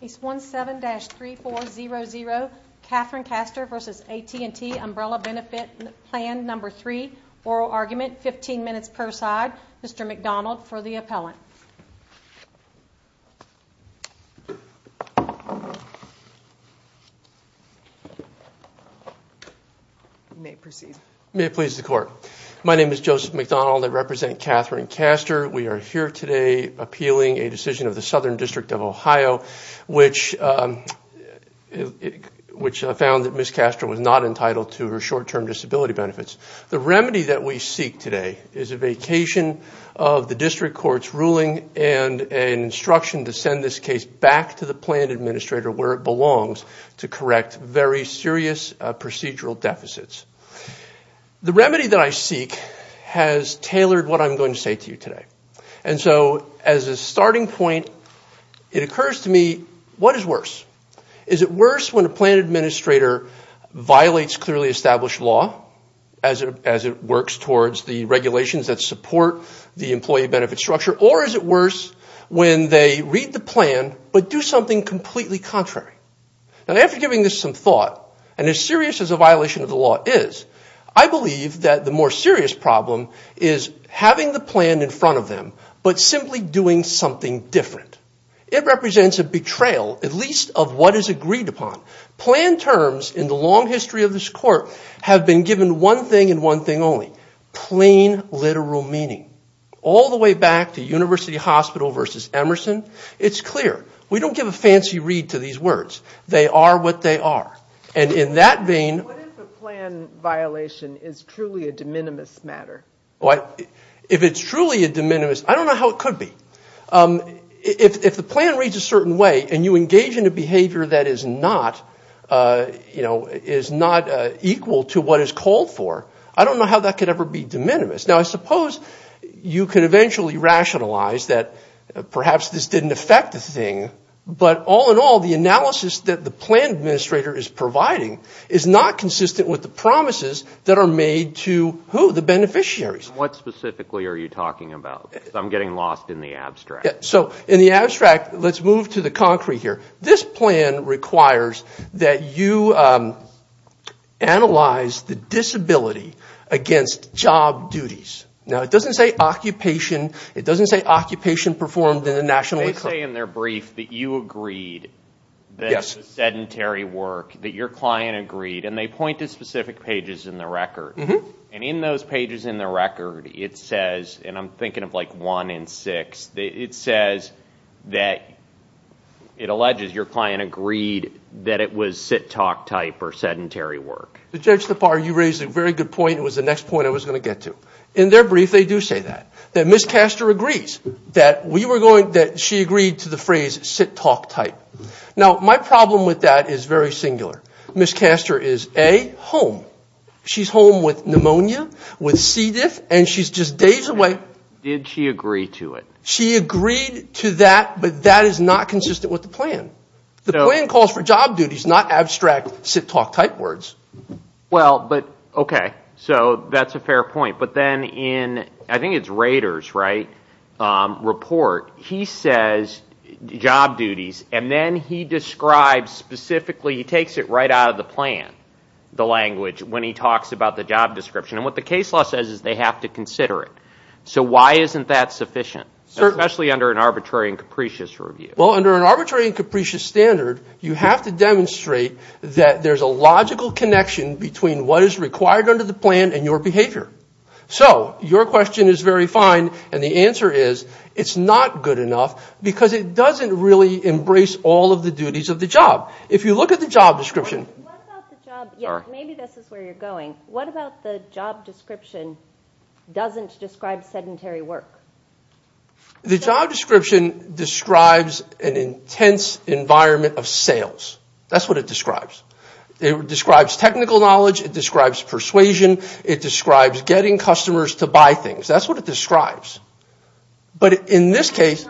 Case 17-3400 Catherine Castor versus AT&T Umbrella Benefit Plan number three oral argument 15 minutes per side. Mr. McDonald for the appellant. May it please the court. My name is Joseph McDonald. I represent Catherine Castor. We are here today appealing a decision of the Southern District of Ohio which found that Ms. Castor was not entitled to her short-term disability benefits. The remedy that we seek today is a vacation of the district court's ruling and instruction to send this case back to the plan administrator where it belongs to correct very serious procedural deficits. The remedy that I seek has tailored what I'm going to say to you today. And so as a starting point, it occurs to me what is worse? Is it worse when a plan administrator violates clearly established law as it works towards the regulations that support the employee benefit structure or is it worse when they read the plan but do something completely contrary? And after giving this some thought and as serious as a violation of the law is, I believe that the more serious problem is having the plan in front of them but simply doing something different. It represents a betrayal at least of what is agreed upon. Plan terms in the long history of this court have been given one thing and one thing only, plain literal meaning. All the way back to University Hospital versus Emerson, it's clear. We don't give a fancy read to these words. They are what they are. And in that vein... What if a plan violation is truly a de minimis matter? If it's truly a de minimis, I don't know how it could be. If the plan reads a certain way and you engage in a behavior that is not, you know, is not equal to what is called for, I don't know how that could ever be de minimis. Now, I suppose you could eventually rationalize that perhaps this didn't affect the thing, but all in all, the analysis that the plan administrator is providing is not consistent with the promises that are made to who? The beneficiaries. And what specifically are you talking about? Because I'm getting lost in the abstract. So, in the abstract, let's move to the concrete here. This plan requires that you analyze the disability against job duties. Now, it doesn't say occupation. It doesn't say occupation performed internationally. They say in their brief that you agreed that the sedentary work, that your client agreed, and they point to specific pages in the record. And in those pages in the record, it says, and I'm thinking of like one in six, it says that it alleges your client agreed that it was sit-talk type or sedentary work. Judge Tapar, you raised a very good point. It was the next point I was going to get to. In their brief, they do say that. That Ms. Castor agrees that we were going, that she agreed to the phrase sit-talk type. Now, my problem with that is very singular. Ms. Castor is, A, home. She's home with pneumonia, with C. diff, and she's just days away. Did she agree to it? She agreed to that, but that is not consistent with the plan. The plan calls for job duties, not abstract sit-talk type words. Well, but, okay, so that's a fair point. But then in, I think it's Rader's, right, report, he says job duties, and then he describes specifically, he takes it right out of the plan, the language, when he talks about the job description. And what the case law says is they have to consider it. So why isn't that sufficient, especially under an arbitrary and capricious review? Well, under an arbitrary and capricious standard, you have to demonstrate that there's a logical connection between what is required under the plan and your behavior. So your question is very fine, and the answer is it's not good enough because it doesn't really embrace all of the duties of the job. If you look at the job description. What about the job, maybe this is where you're going. What about the job description doesn't describe sedentary work? The job description describes an intense environment of sales. That's what it describes. It describes technical knowledge. It describes persuasion. It describes getting customers to buy things. That's what it describes. But in this case,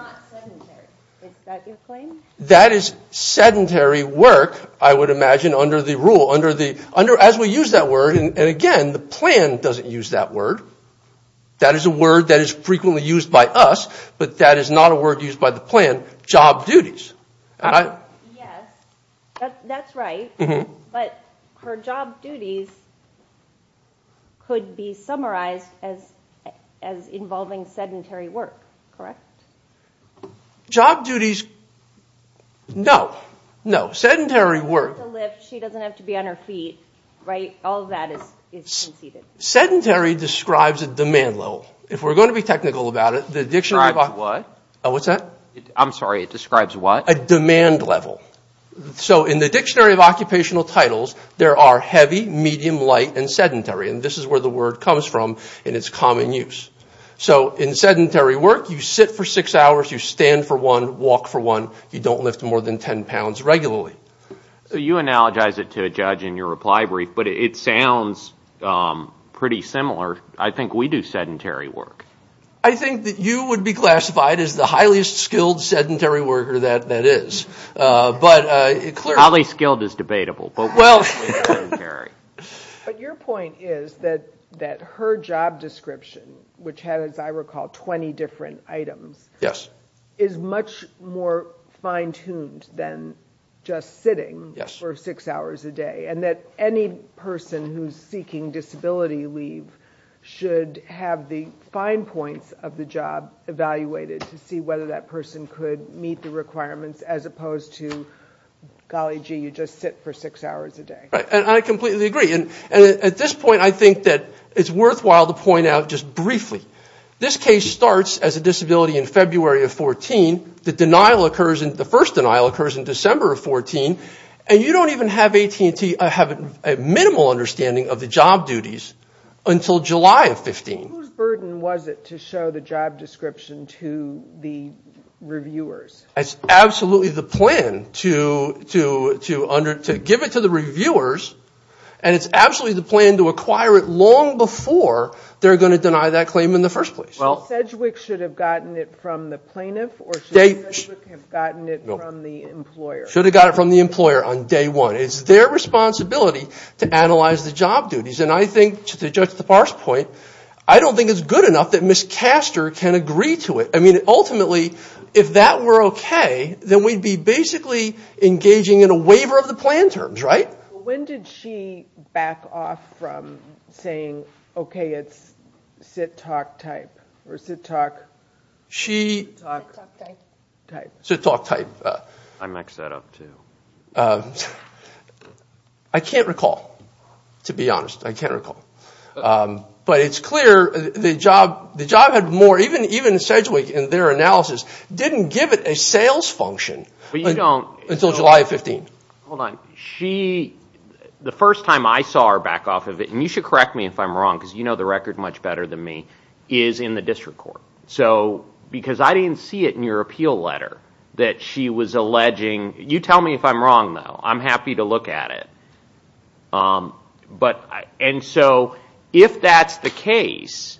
that is sedentary work, I would imagine, under the rule. As we use that word, and again, the plan doesn't use that word. That is a word that is frequently used by us, but that is not a word used by the plan, job duties. Yes, that's right. But her job duties could be summarized as involving sedentary work, correct? Job duties, no. No, sedentary work. She doesn't have to lift. She doesn't have to be on her feet. All of that is conceded. Sedentary describes a demand level. If we're going to be technical about it, the dictionary of occupation... Describes what? What's that? I'm sorry, it describes what? A demand level. So in the dictionary of occupational titles, there are heavy, medium, light, and sedentary. And this is where the word comes from in its common use. So in sedentary work, you sit for six hours, you stand for one, walk for one. You don't lift more than 10 pounds regularly. So you analogize it to, Judge, in your reply brief, but it sounds pretty similar. I think we do sedentary work. I think that you would be classified as the highest skilled sedentary worker that is. But clearly... Highly skilled is debatable. But your point is that her job description, which has, as I recall, 20 different items, is much more fine-tuned than just sitting for six hours a day. And that any person who's seeking disability leave should have the fine points of the job evaluated to see whether that person could meet the requirements, as opposed to, golly gee, you just sit for six hours a day. Right, and I completely agree. And at this point, I think that it's worthwhile to point out just briefly, this case starts as a disability in February of 14. The denial occurs, the first denial occurs in December of 14. And you don't even have AT&T, have a minimal understanding of the job duties until July of 15. Whose burden was it to show the job description to the reviewers? It's absolutely the plan to give it to the reviewers. And it's absolutely the plan to acquire it long before they're going to deny that claim in the first place. Sedgwick should have gotten it from the plaintiff, or should Sedgwick have gotten it from the employer? Should have gotten it from the employer on day one. It's their responsibility to analyze the job duties. And I think, to judge the parse point, I don't think it's good enough that Ms. Caster can agree to it. I mean, ultimately, if that were okay, then we'd be basically engaging in a waiver of the plan terms, right? When did she back off from saying, okay, it's sit, talk, type, or sit, talk, type? Sit, talk, type. I mixed that up, too. I can't recall, to be honest. I can't recall. But it's clear the job had more, even Sedgwick in their analysis didn't give it a sales function until July of 15. Hold on. She, the first time I saw her back off of it, and you should correct me if I'm wrong, because you know the record much better than me, is in the district court. So, because I didn't see it in your appeal letter that she was alleging, you tell me if I'm wrong, though. I'm happy to look at it. And so, if that's the case,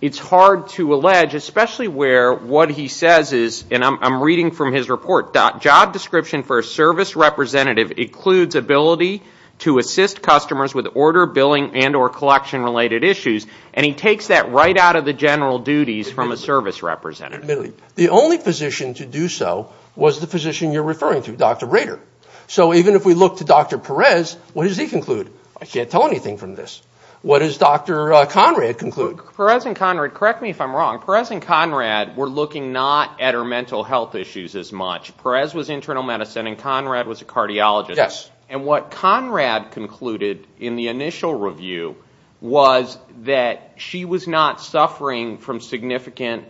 it's hard to allege, especially where what he says is, and I'm reading from his report, job description for a service representative includes ability to assist customers with order, billing, and or collection related issues. And he takes that right out of the general duties from a service representative. The only physician to do so was the physician you're referring to, Dr. Rader. So, even if we look to Dr. Perez, what does he conclude? I can't tell anything from this. What does Dr. Conrad conclude? Perez and Conrad, correct me if I'm wrong, Perez and Conrad were looking not at her mental health issues as much. Perez was internal medicine, and Conrad was a cardiologist. And what Conrad concluded in the initial review was that she was not suffering from significant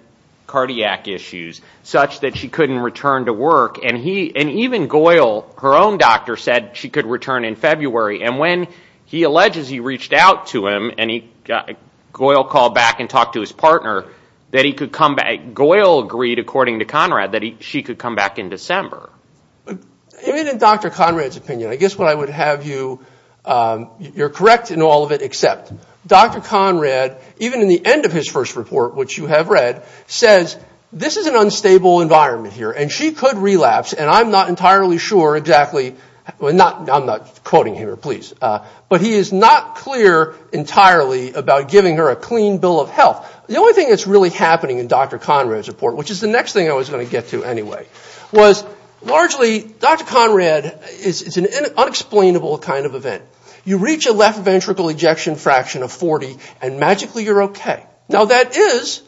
cardiac issues, such that she couldn't return to work. And even Goyle, her own doctor, said she could return in February. And when he alleges he reached out to him, and Goyle called back and talked to his partner, Goyle agreed, according to Conrad, that she could come back in December. Even in Dr. Conrad's opinion, I guess what I would have you, you're correct in all of it, except Dr. Conrad, even in the end of his first report, which you have read, says this is an unstable environment here, and she could relapse, and I'm not entirely sure exactly, I'm not quoting here, please, but he is not clear entirely about giving her a clean bill of health. The only thing that's really happening in Dr. Conrad's report, which is the next thing I was going to get to anyway, was largely, Dr. Conrad, it's an unexplainable kind of event. You reach a left ventricle ejection fraction of 40, and magically you're okay. Now that is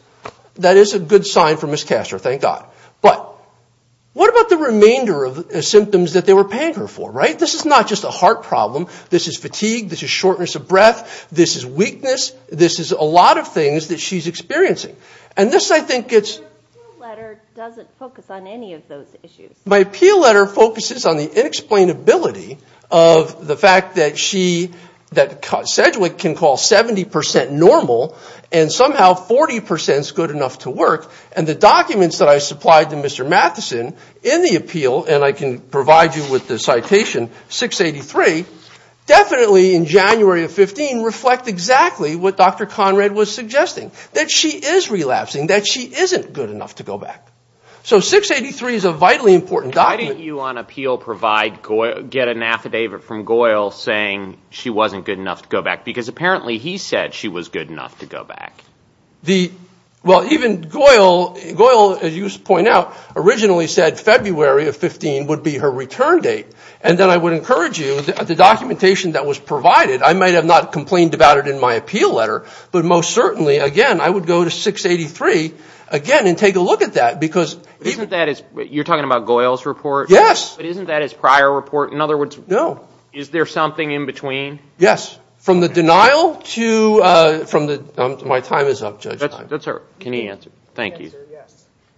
a good sign for Ms. Castor, thank God. But what about the remainder of the symptoms that they were paying her for, right? This is not just a heart problem, this is fatigue, this is shortness of breath, this is weakness, this is a lot of things that she's experiencing, and this I think gets... Your appeal letter doesn't focus on any of those issues. My appeal letter focuses on the inexplainability of the fact that Sedgwick can call 70% normal, and somehow 40% is good enough to work, and the documents that I supplied to Mr. Matheson in the appeal, and I can provide you with the citation, 683, definitely in January of 15 reflect exactly what Dr. Conrad was suggesting, that she is relapsing, that she isn't good enough to go back. So 683 is a vitally important document. Why didn't you on appeal get an affidavit from Goyle saying she wasn't good enough to go back? Because apparently he said she was good enough to go back. Well, even Goyle, as you point out, originally said February of 15 would be her return date. And then I would encourage you, the documentation that was provided, I might have not complained about it in my appeal letter, but most certainly, again, I would go to 683 again and take a look at that. You're talking about Goyle's report? Yes. But isn't that his prior report? In other words, is there something in between? Yes. From the denial to my time is up, Judge. That's all right. Can he answer? Thank you.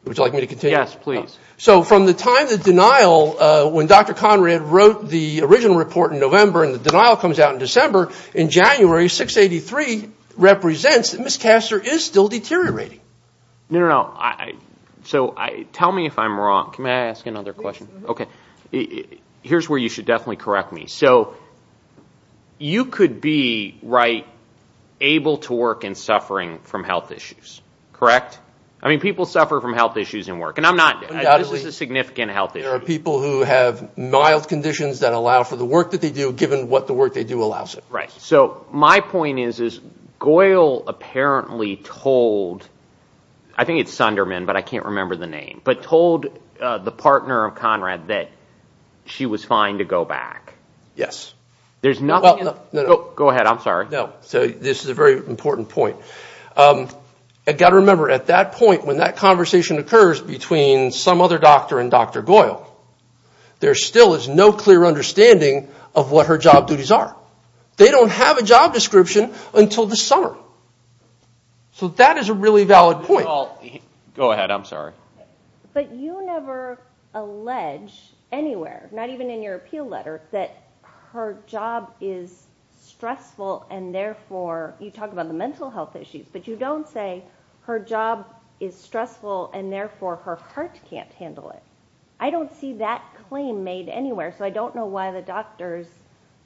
Would you like me to continue? Yes, please. So from the time the denial, when Dr. Conrad wrote the original report in November and the denial comes out in December, in January, 683 represents that Ms. Castor is still deteriorating. No, no, no. So tell me if I'm wrong. Can I ask another question? Okay. Here's where you should definitely correct me. So you could be, right, able to work in suffering from health issues, correct? I mean, people suffer from health issues in work, and I'm not. This is a significant health issue. There are people who have mild conditions that allow for the work that they do, given what the work they do allows them. Right. So my point is, is Goyle apparently told, I think it's Sunderman, but I can't remember the name, but told the partner of Conrad that she was fine to go back. Yes. There's nothing... Well, no, no. Go ahead. I'm sorry. No. So this is a very important point. I've got to remember, at that point, when that conversation occurs between some other doctor and Dr. Goyle, there still is no clear understanding of what her job duties are. They don't have a job description until this summer. So that is a really valid point. Go ahead. I'm sorry. But you never allege anywhere, not even in your appeal letter, that her job is stressful and therefore you talk about the mental health issues, but you don't say her job is stressful and therefore her heart can't handle it. I don't see that claim made anywhere, so I don't know why the doctors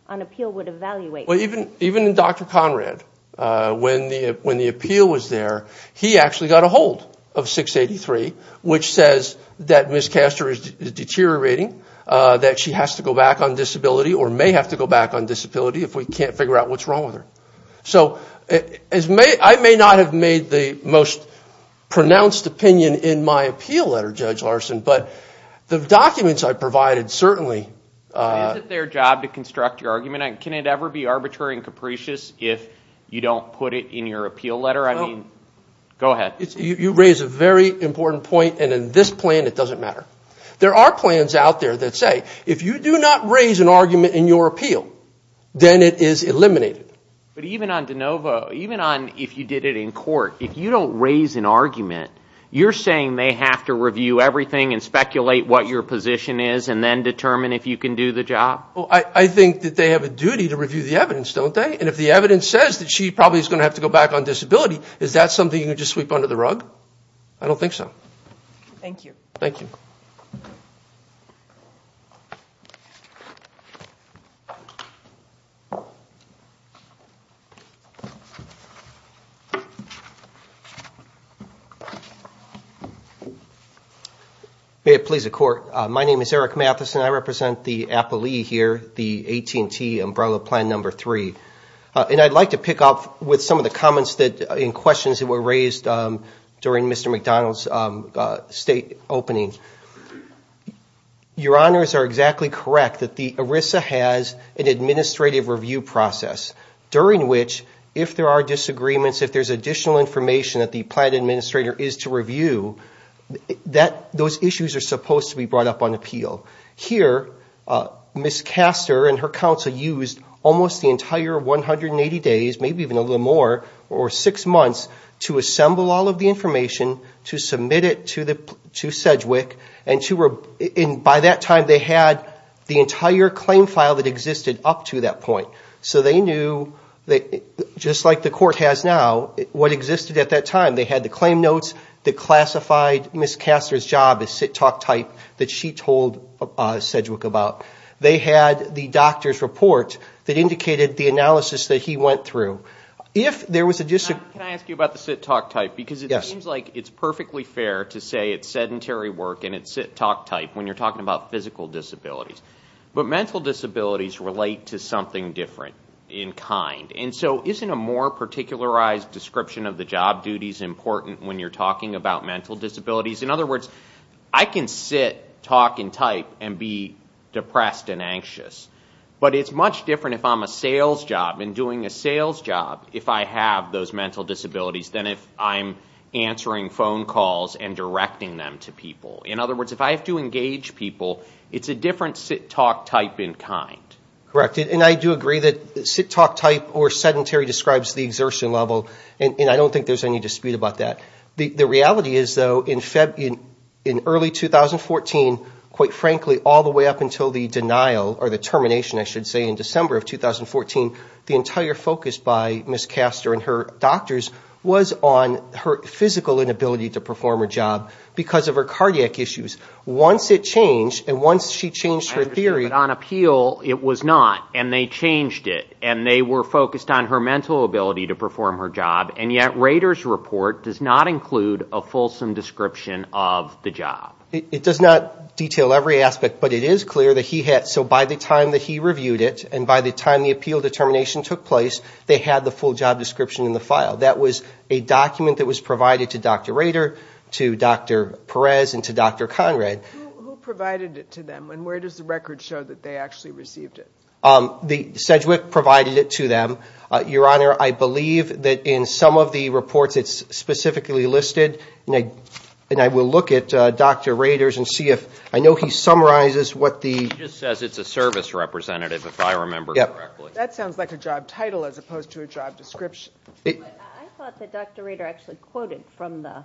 on appeal would evaluate that. Even Dr. Conrad, when the appeal was there, he actually got a hold of 683, which says that Ms. Caster is deteriorating, that she has to go back on disability or may have to go back on disability if we can't figure out what's wrong with her. So I may not have made the most pronounced opinion in my appeal letter, Judge Larson, but the documents I provided certainly... Is it their job to construct your argument? Can it ever be arbitrary and capricious if you don't put it in your appeal letter? No. Go ahead. You raise a very important point, and in this plan it doesn't matter. There are plans out there that say if you do not raise an argument in your appeal, then it is eliminated. But even on DeNovo, even on if you did it in court, if you don't raise an argument, you're saying they have to review everything and speculate what your position is and then determine if you can do the job? Well, I think that they have a duty to review the evidence, don't they? And if the evidence says that she probably is going to have to go back on disability, is that something you can just sweep under the rug? I don't think so. Thank you. Thank you. May it please the Court. My name is Eric Matheson. I represent the appellee here, the AT&T Umbrella Plan No. 3. And I'd like to pick up with some of the comments and questions that were raised during Mr. McDonald's state opening. Your Honors are exactly correct that the ERISA has an administrative review process, during which if there are disagreements, if there's additional information that the plan administrator is to review, those issues are supposed to be brought up on appeal. Here, Ms. Castor and her counsel used almost the entire 180 days, maybe even a little more, or six months, to assemble all of the information, to submit it to SEDGWC, and by that time they had the entire claim file that existed up to that point. So they knew, just like the Court has now, what existed at that time. They had the claim notes that classified Ms. Castor's job as sit-talk type that she told SEDGWC about. They had the doctor's report that indicated the analysis that he went through. Can I ask you about the sit-talk type? Yes. Because it seems like it's perfectly fair to say it's sedentary work and it's sit-talk type when you're talking about physical disabilities. But mental disabilities relate to something different in kind. And so isn't a more particularized description of the job duties important when you're talking about mental disabilities? In other words, I can sit, talk, and type and be depressed and anxious, but it's much different if I'm a sales job and doing a sales job if I have those mental disabilities than if I'm answering phone calls and directing them to people. In other words, if I have to engage people, it's a different sit-talk type in kind. Correct. And I do agree that sit-talk type or sedentary describes the exertion level, and I don't think there's any dispute about that. The reality is, though, in early 2014, quite frankly, all the way up until the denial or the termination, I should say, in December of 2014, the entire focus by Ms. Castor and her doctors was on her physical inability to perform her job because of her cardiac issues. Once it changed, and once she changed her theory... I understand, but on appeal, it was not, and they changed it, and they were focused on her mental ability to perform her job, and yet Rader's report does not include a fulsome description of the job. It does not detail every aspect, but it is clear that he had, so by the time that he reviewed it and by the time the appeal determination took place, they had the full job description in the file. That was a document that was provided to Dr. Rader, to Dr. Perez, and to Dr. Conrad. Who provided it to them, and where does the record show that they actually received it? Sedgwick provided it to them. Your Honor, I believe that in some of the reports it's specifically listed, and I will look at Dr. Rader's and see if I know he summarizes what the... He just says it's a service representative, if I remember correctly. That sounds like a job title as opposed to a job description. I thought that Dr. Rader actually quoted from the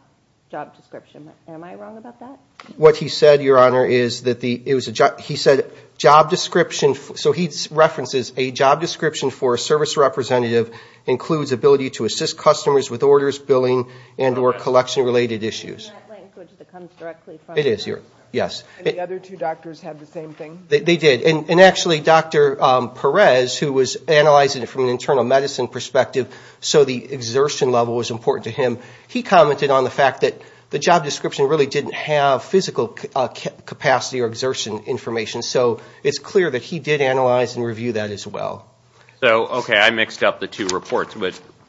job description. Am I wrong about that? What he said, Your Honor, is that he said job description, so he references a job description for a service representative includes ability to assist customers with orders, billing, and or collection-related issues. In that language that comes directly from... It is, yes. And the other two doctors had the same thing? They did. And actually, Dr. Perez, who was analyzing it from an internal medicine perspective, so the exertion level was important to him, he commented on the fact that the job description really didn't have physical capacity or exertion information. So it's clear that he did analyze and review that as well. Okay, I mixed up the two reports.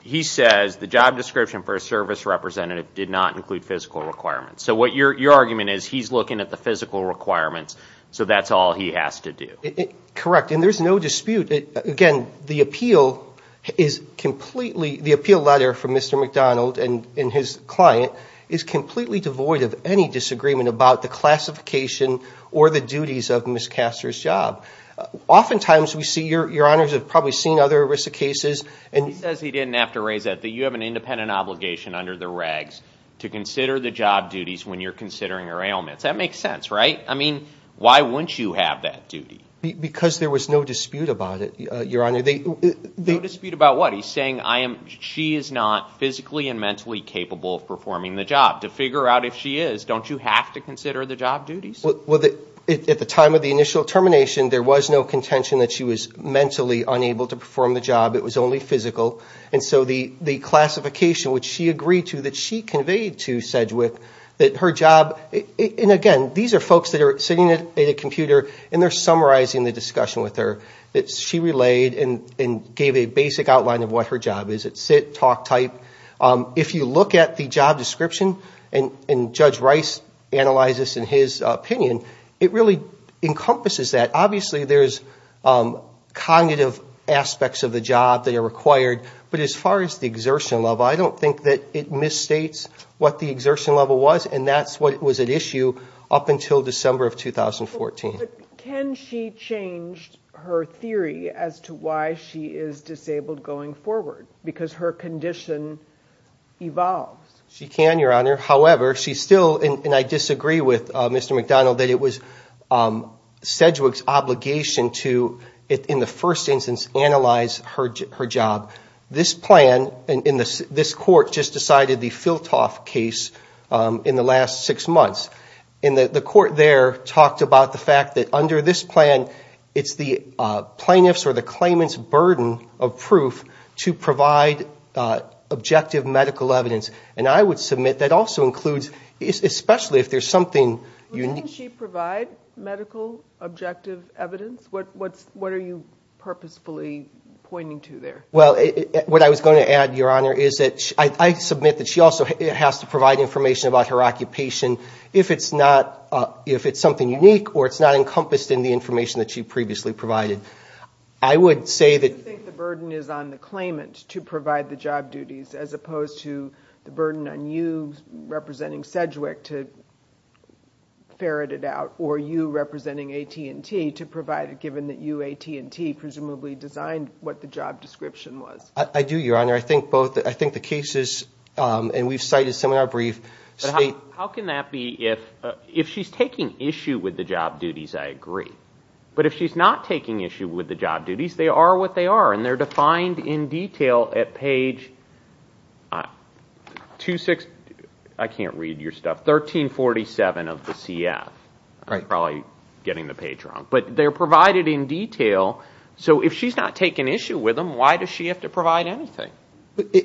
He says the job description for a service representative did not include physical requirements. So your argument is he's looking at the physical requirements, so that's all he has to do. Correct, and there's no dispute. Again, the appeal letter from Mr. McDonald and his client is completely devoid of any disagreement about the classification or the duties of Ms. Caster's job. Oftentimes we see, Your Honors, we've probably seen other risk cases. He says he didn't have to raise that. under the regs to consider the job duties when you're considering her ailments. That makes sense, right? I mean, why wouldn't you have that duty? Because there was no dispute about it, Your Honor. No dispute about what? He's saying she is not physically and mentally capable of performing the job. To figure out if she is, don't you have to consider the job duties? Well, at the time of the initial termination, there was no contention that she was mentally unable to perform the job. It was only physical. And so the classification, which she agreed to, that she conveyed to Sedgwick, that her job, and again, these are folks that are sitting at a computer and they're summarizing the discussion with her. She relayed and gave a basic outline of what her job is. It's sit, talk type. If you look at the job description, and Judge Rice analyzes this in his opinion, it really encompasses that. Obviously, there's cognitive aspects of the job that are required. But as far as the exertion level, I don't think that it misstates what the exertion level was, and that's what was at issue up until December of 2014. But can she change her theory as to why she is disabled going forward? She can, Your Honor. However, she still, and I disagree with Mr. McDonald, that it was Sedgwick's obligation to, in the first instance, analyze her job. This plan in this court just decided the Philtoff case in the last six months. And the court there talked about the fact that under this plan, it's the plaintiff's or the claimant's burden of proof to provide objective medical evidence. And I would submit that also includes, especially if there's something unique. Doesn't she provide medical objective evidence? What are you purposefully pointing to there? Well, what I was going to add, Your Honor, is that I submit that she also has to provide information about her occupation if it's something unique or it's not encompassed in the information that she previously provided. Do you think the burden is on the claimant to provide the job duties as opposed to the burden on you representing Sedgwick to ferret it out, or you representing AT&T to provide it, given that you, AT&T, presumably designed what the job description was? I do, Your Honor. I think the cases, and we've cited some in our brief. How can that be if she's taking issue with the job duties, I agree. But if she's not taking issue with the job duties, they are what they are, and they're defined in detail at page 2-6. I can't read your stuff. 1347 of the CF. I'm probably getting the page wrong. But they're provided in detail. So if she's not taking issue with them, why does she have to provide anything?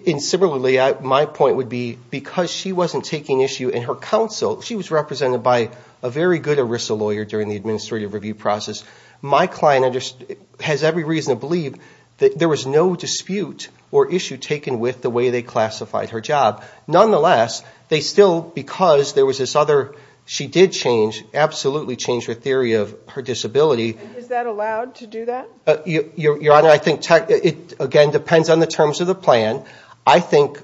And similarly, my point would be because she wasn't taking issue in her counsel, she was represented by a very good ERISA lawyer during the administrative review process. My client has every reason to believe that there was no dispute or issue taken with the way they classified her job. Nonetheless, they still, because there was this other, she did change, absolutely change her theory of her disability. Is that allowed to do that? Your Honor, I think it, again, depends on the terms of the plan. I think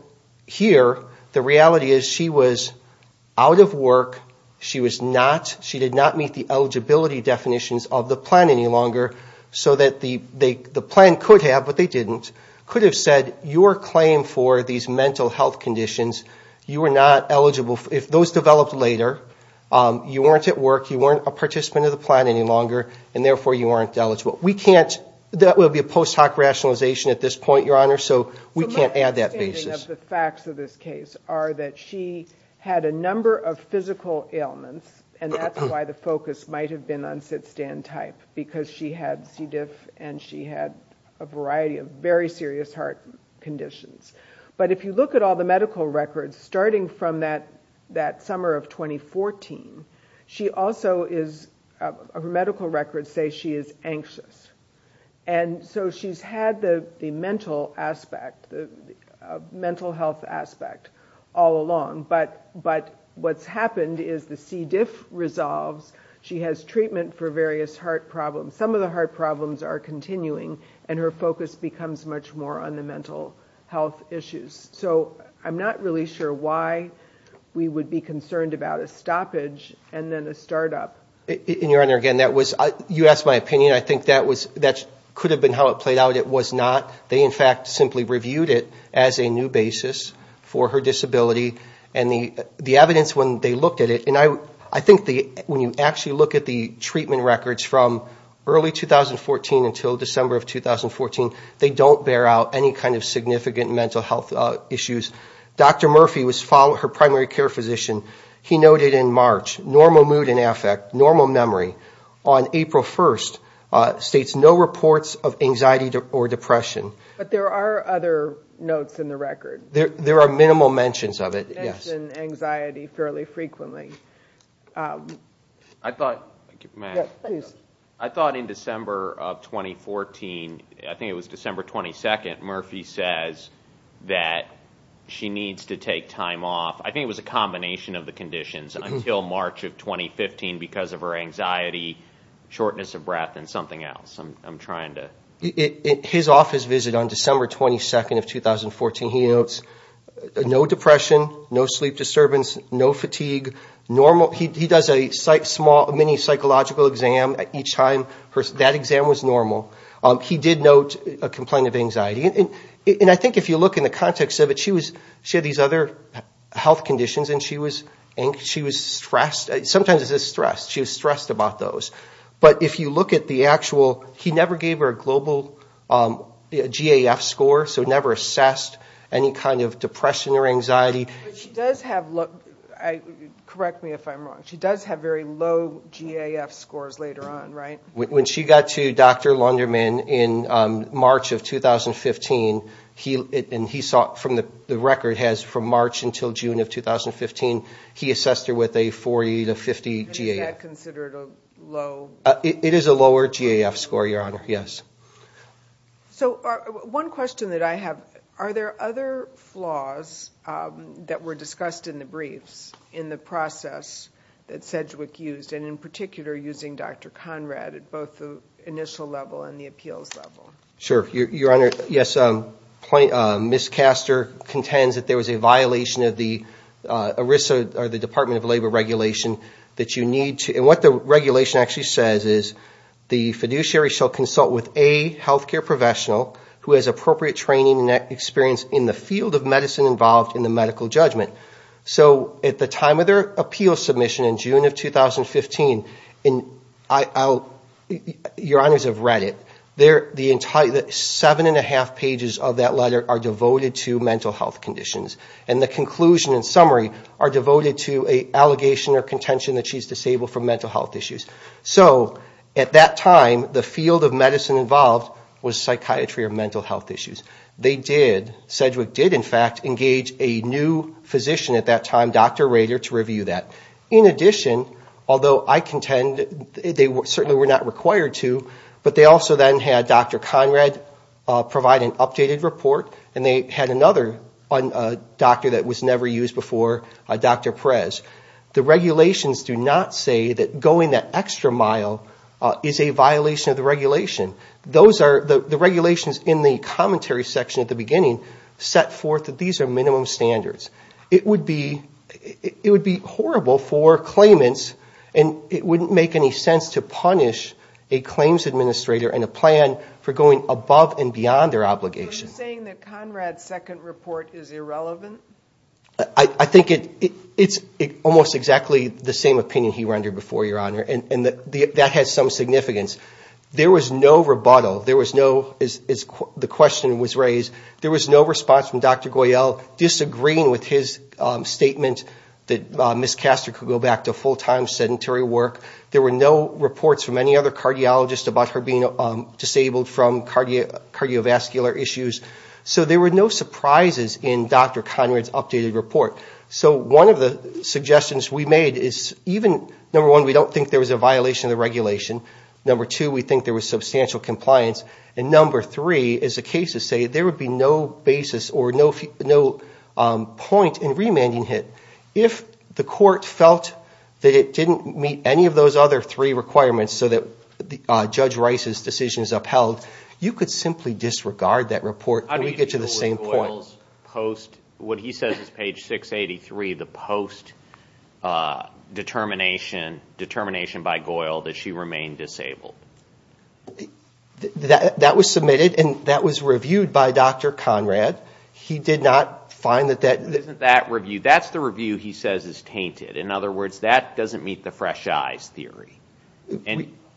here the reality is she was out of work. She was not, she did not meet the eligibility definitions of the plan any longer, so that the plan could have, but they didn't, could have said your claim for these mental health conditions, you are not eligible. If those developed later, you weren't at work, you weren't a participant of the plan any longer, and therefore you aren't eligible. We can't, that would be a post hoc rationalization at this point, Your Honor. So we can't add that basis. The facts of this case are that she had a number of physical ailments, and that's why the focus might have been on sit-stand type, because she had C. diff and she had a variety of very serious heart conditions. But if you look at all the medical records, starting from that summer of 2014, she also is, her medical records say she is anxious. And so she's had the mental aspect, the mental health aspect all along, but what's happened is the C. diff resolves, she has treatment for various heart problems. Some of the heart problems are continuing, and her focus becomes much more on the mental health issues. So I'm not really sure why we would be concerned about a stoppage and then a startup. And, Your Honor, again, that was, you asked my opinion. I think that could have been how it played out. It was not. They, in fact, simply reviewed it as a new basis for her disability. And the evidence when they looked at it, and I think when you actually look at the treatment records from early 2014 until December of 2014, they don't bear out any kind of significant mental health issues. Dr. Murphy, her primary care physician, he noted in March, normal mood and affect, normal memory, on April 1st states no reports of anxiety or depression. But there are other notes in the record. There are minimal mentions of it, yes. They mention anxiety fairly frequently. I thought in December of 2014, I think it was December 22nd, Murphy says that she needs to take time off. I think it was a combination of the conditions until March of 2015 because of her anxiety, shortness of breath, and something else. I'm trying to. His office visit on December 22nd of 2014, he notes no depression, no sleep disturbance, no fatigue, normal. He does a mini psychological exam each time. That exam was normal. He did note a complaint of anxiety. I think if you look in the context of it, she had these other health conditions, and she was stressed. Sometimes it says stressed. She was stressed about those. But if you look at the actual, he never gave her a global GAF score, so never assessed any kind of depression or anxiety. Correct me if I'm wrong. She does have very low GAF scores later on, right? When she got to Dr. Lunderman in March of 2015, and he saw from the record has from March until June of 2015, he assessed her with a 40 to 50 GAF. Is that considered a low? It is a lower GAF score, Your Honor, yes. So one question that I have, are there other flaws that were discussed in the briefs in the process that Sedgwick used, and in particular using Dr. Conrad at both the initial level and the appeals level? Sure, Your Honor. Yes, Ms. Castor contends that there was a violation of the ERISA, or the Department of Labor regulation that you need to, and what the regulation actually says is the fiduciary shall consult with a healthcare professional who has appropriate training and experience in the field of medicine involved in the medical judgment. So at the time of their appeal submission in June of 2015, Your Honors have read it, the seven and a half pages of that letter are devoted to mental health conditions, and the conclusion and summary are devoted to an allegation or contention that she's disabled from mental health issues. So at that time, the field of medicine involved was psychiatry or mental health issues. They did, Sedgwick did, in fact, engage a new physician at that time, Dr. Rader, to review that. In addition, although I contend they certainly were not required to, but they also then had Dr. Conrad provide an updated report, and they had another doctor that was never used before, Dr. Perez. The regulations do not say that going that extra mile is a violation of the regulation. The regulations in the commentary section at the beginning set forth that these are minimum standards. It would be horrible for claimants, and it wouldn't make any sense to punish a claims administrator and a plan for going above and beyond their obligation. Are you saying that Conrad's second report is irrelevant? I think it's almost exactly the same opinion he rendered before, Your Honor, and that has some significance. There was no rebuttal. There was no, as the question was raised, there was no response from Dr. Goyal, disagreeing with his statement that Ms. Caster could go back to full-time sedentary work. There were no reports from any other cardiologist about her being disabled from cardiovascular issues. So there were no surprises in Dr. Conrad's updated report. So one of the suggestions we made is even, number one, we don't think there was a violation of the regulation. Number two, we think there was substantial compliance. And number three, as the cases say, there would be no basis or no point in remanding it. If the court felt that it didn't meet any of those other three requirements so that Judge Rice's decision is upheld, you could simply disregard that report and we'd get to the same point. What he says is page 683, the post-determination by Goyal that she remained disabled. That was submitted and that was reviewed by Dr. Conrad. He did not find that that... It wasn't that review. That's the review he says is tainted. In other words, that doesn't meet the fresh eyes theory.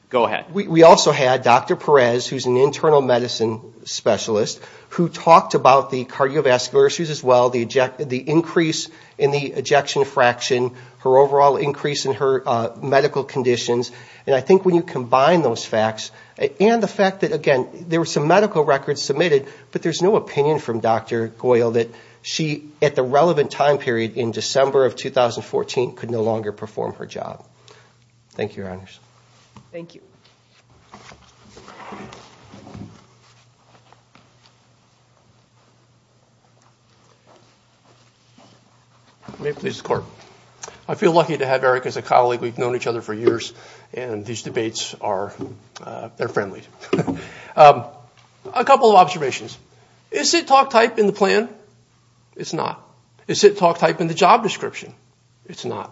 Go ahead. We also had Dr. Perez, who's an internal medicine specialist, who talked about the cardiovascular issues as well, the increase in the ejection fraction, her overall increase in her medical conditions. And I think when you combine those facts and the fact that, again, there were some medical records submitted, but there's no opinion from Dr. Goyal that she, at the relevant time period in December of 2014, could no longer perform her job. Thank you, Your Honors. Thank you. May it please the Court. I feel lucky to have Eric as a colleague. We've known each other for years and these debates are friendly. A couple of observations. Is sit-talk type in the plan? It's not. Is sit-talk type in the job description? It's not.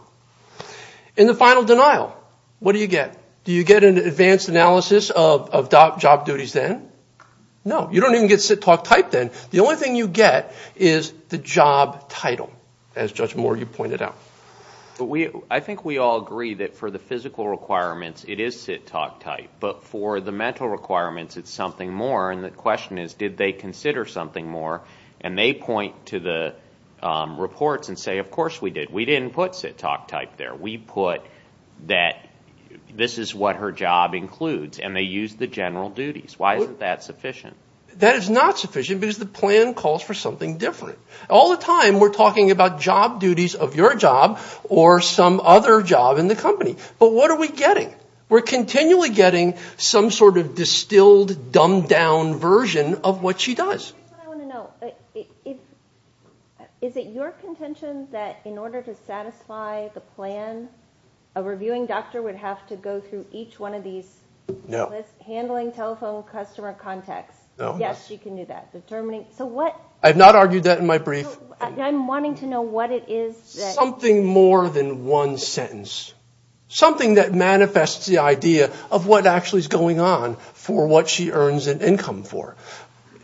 In the final denial, what do you get? Do you get an advanced analysis of job duties then? No. You don't even get sit-talk type then. The only thing you get is the job title, as Judge Moore, you pointed out. I think we all agree that for the physical requirements, it is sit-talk type. But for the mental requirements, it's something more. And the question is, did they consider something more? And they point to the reports and say, of course we did. We didn't put sit-talk type there. We put that this is what her job includes and they used the general duties. Why isn't that sufficient? That is not sufficient because the plan calls for something different. All the time, we're talking about job duties of your job or some other job in the company. But what are we getting? We're continually getting some sort of distilled, dumbed-down version of what she does. Here's what I want to know. Is it your contention that in order to satisfy the plan, a reviewing doctor would have to go through each one of these lists? No. Handling telephone customer contacts. Yes, you can do that. I have not argued that in my brief. I'm wanting to know what it is. Something more than one sentence. Something that manifests the idea of what actually is going on for what she earns an income for.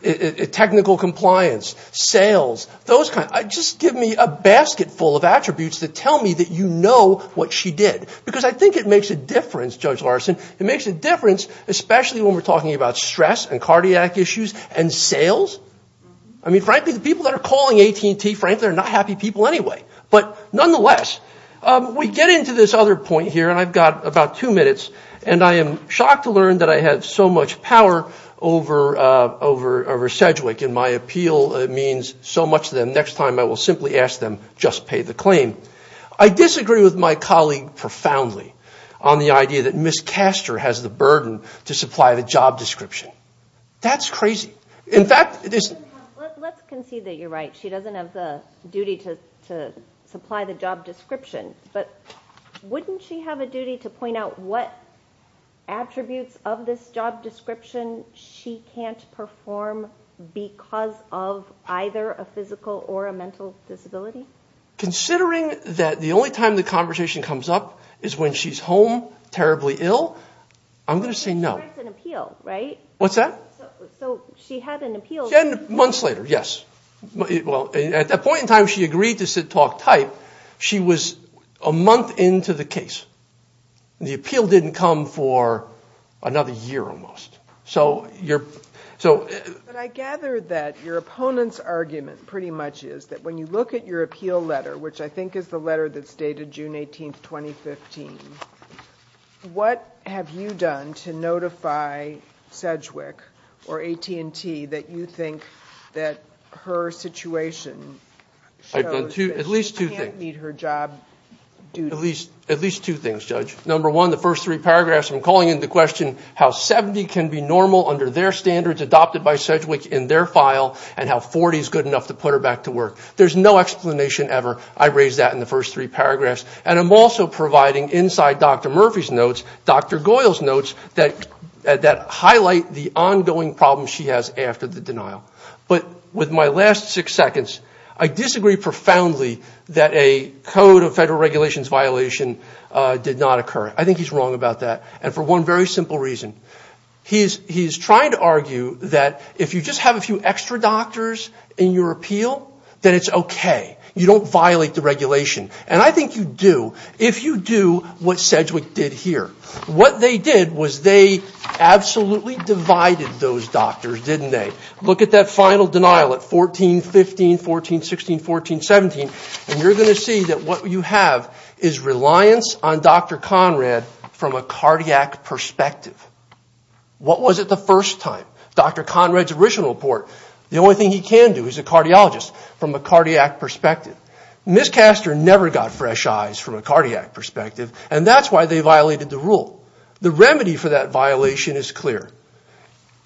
Technical compliance. Sales. Those kinds. Just give me a basket full of attributes that tell me that you know what she did. Because I think it makes a difference, Judge Larson. It makes a difference, especially when we're talking about stress and cardiac issues and sales. I mean, frankly, the people that are calling AT&T, frankly, are not happy people anyway. But nonetheless, we get into this other point here, and I've got about two minutes. And I am shocked to learn that I have so much power over Sedgwick, and my appeal means so much to them. Next time I will simply ask them, just pay the claim. I disagree with my colleague profoundly on the idea that Ms. Caster has the burden to supply the job description. That's crazy. In fact, it is. Let's concede that you're right. She doesn't have the duty to supply the job description. But wouldn't she have a duty to point out what attributes of this job description she can't perform because of either a physical or a mental disability? Considering that the only time the conversation comes up is when she's home, terribly ill, I'm going to say no. She writes an appeal, right? What's that? So she had an appeal. Months later, yes. At that point in time, she agreed to sit talk type. She was a month into the case. The appeal didn't come for another year almost. But I gather that your opponent's argument pretty much is that when you look at your appeal letter, which I think is the letter that's dated June 18th, 2015, what have you done to notify Sedgwick or AT&T that you think that her situation shows that she can't meet her job duties? At least two things, Judge. Number one, the first three paragraphs, I'm calling into question how 70 can be normal under their standards, adopted by Sedgwick in their file, and how 40 is good enough to put her back to work. There's no explanation ever. I raised that in the first three paragraphs. And I'm also providing inside Dr. Murphy's notes, Dr. Goyle's notes, that highlight the ongoing problems she has after the denial. But with my last six seconds, I disagree profoundly that a code of federal regulations violation did not occur. I think he's wrong about that, and for one very simple reason. He's trying to argue that if you just have a few extra doctors in your appeal, then it's okay. You don't violate the regulation. And I think you do if you do what Sedgwick did here. What they did was they absolutely divided those doctors, didn't they? Look at that final denial at 14, 15, 14, 16, 14, 17, and you're going to see that what you have is reliance on Dr. Conrad from a cardiac perspective. What was it the first time? Dr. Conrad's original report, the only thing he can do is a cardiologist from a cardiac perspective. But Ms. Castor never got fresh eyes from a cardiac perspective, and that's why they violated the rule. The remedy for that violation is clear.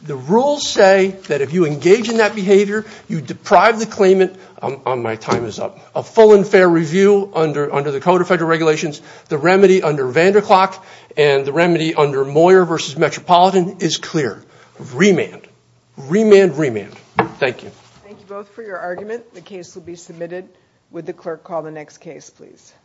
The rules say that if you engage in that behavior, you deprive the claimant of my time is up, a full and fair review under the code of federal regulations. The remedy under Vanderklok and the remedy under Moyer v. Metropolitan is clear. Remand, remand, remand. Thank you. Thank you both for your argument. The case will be submitted. Would the clerk call the next case, please?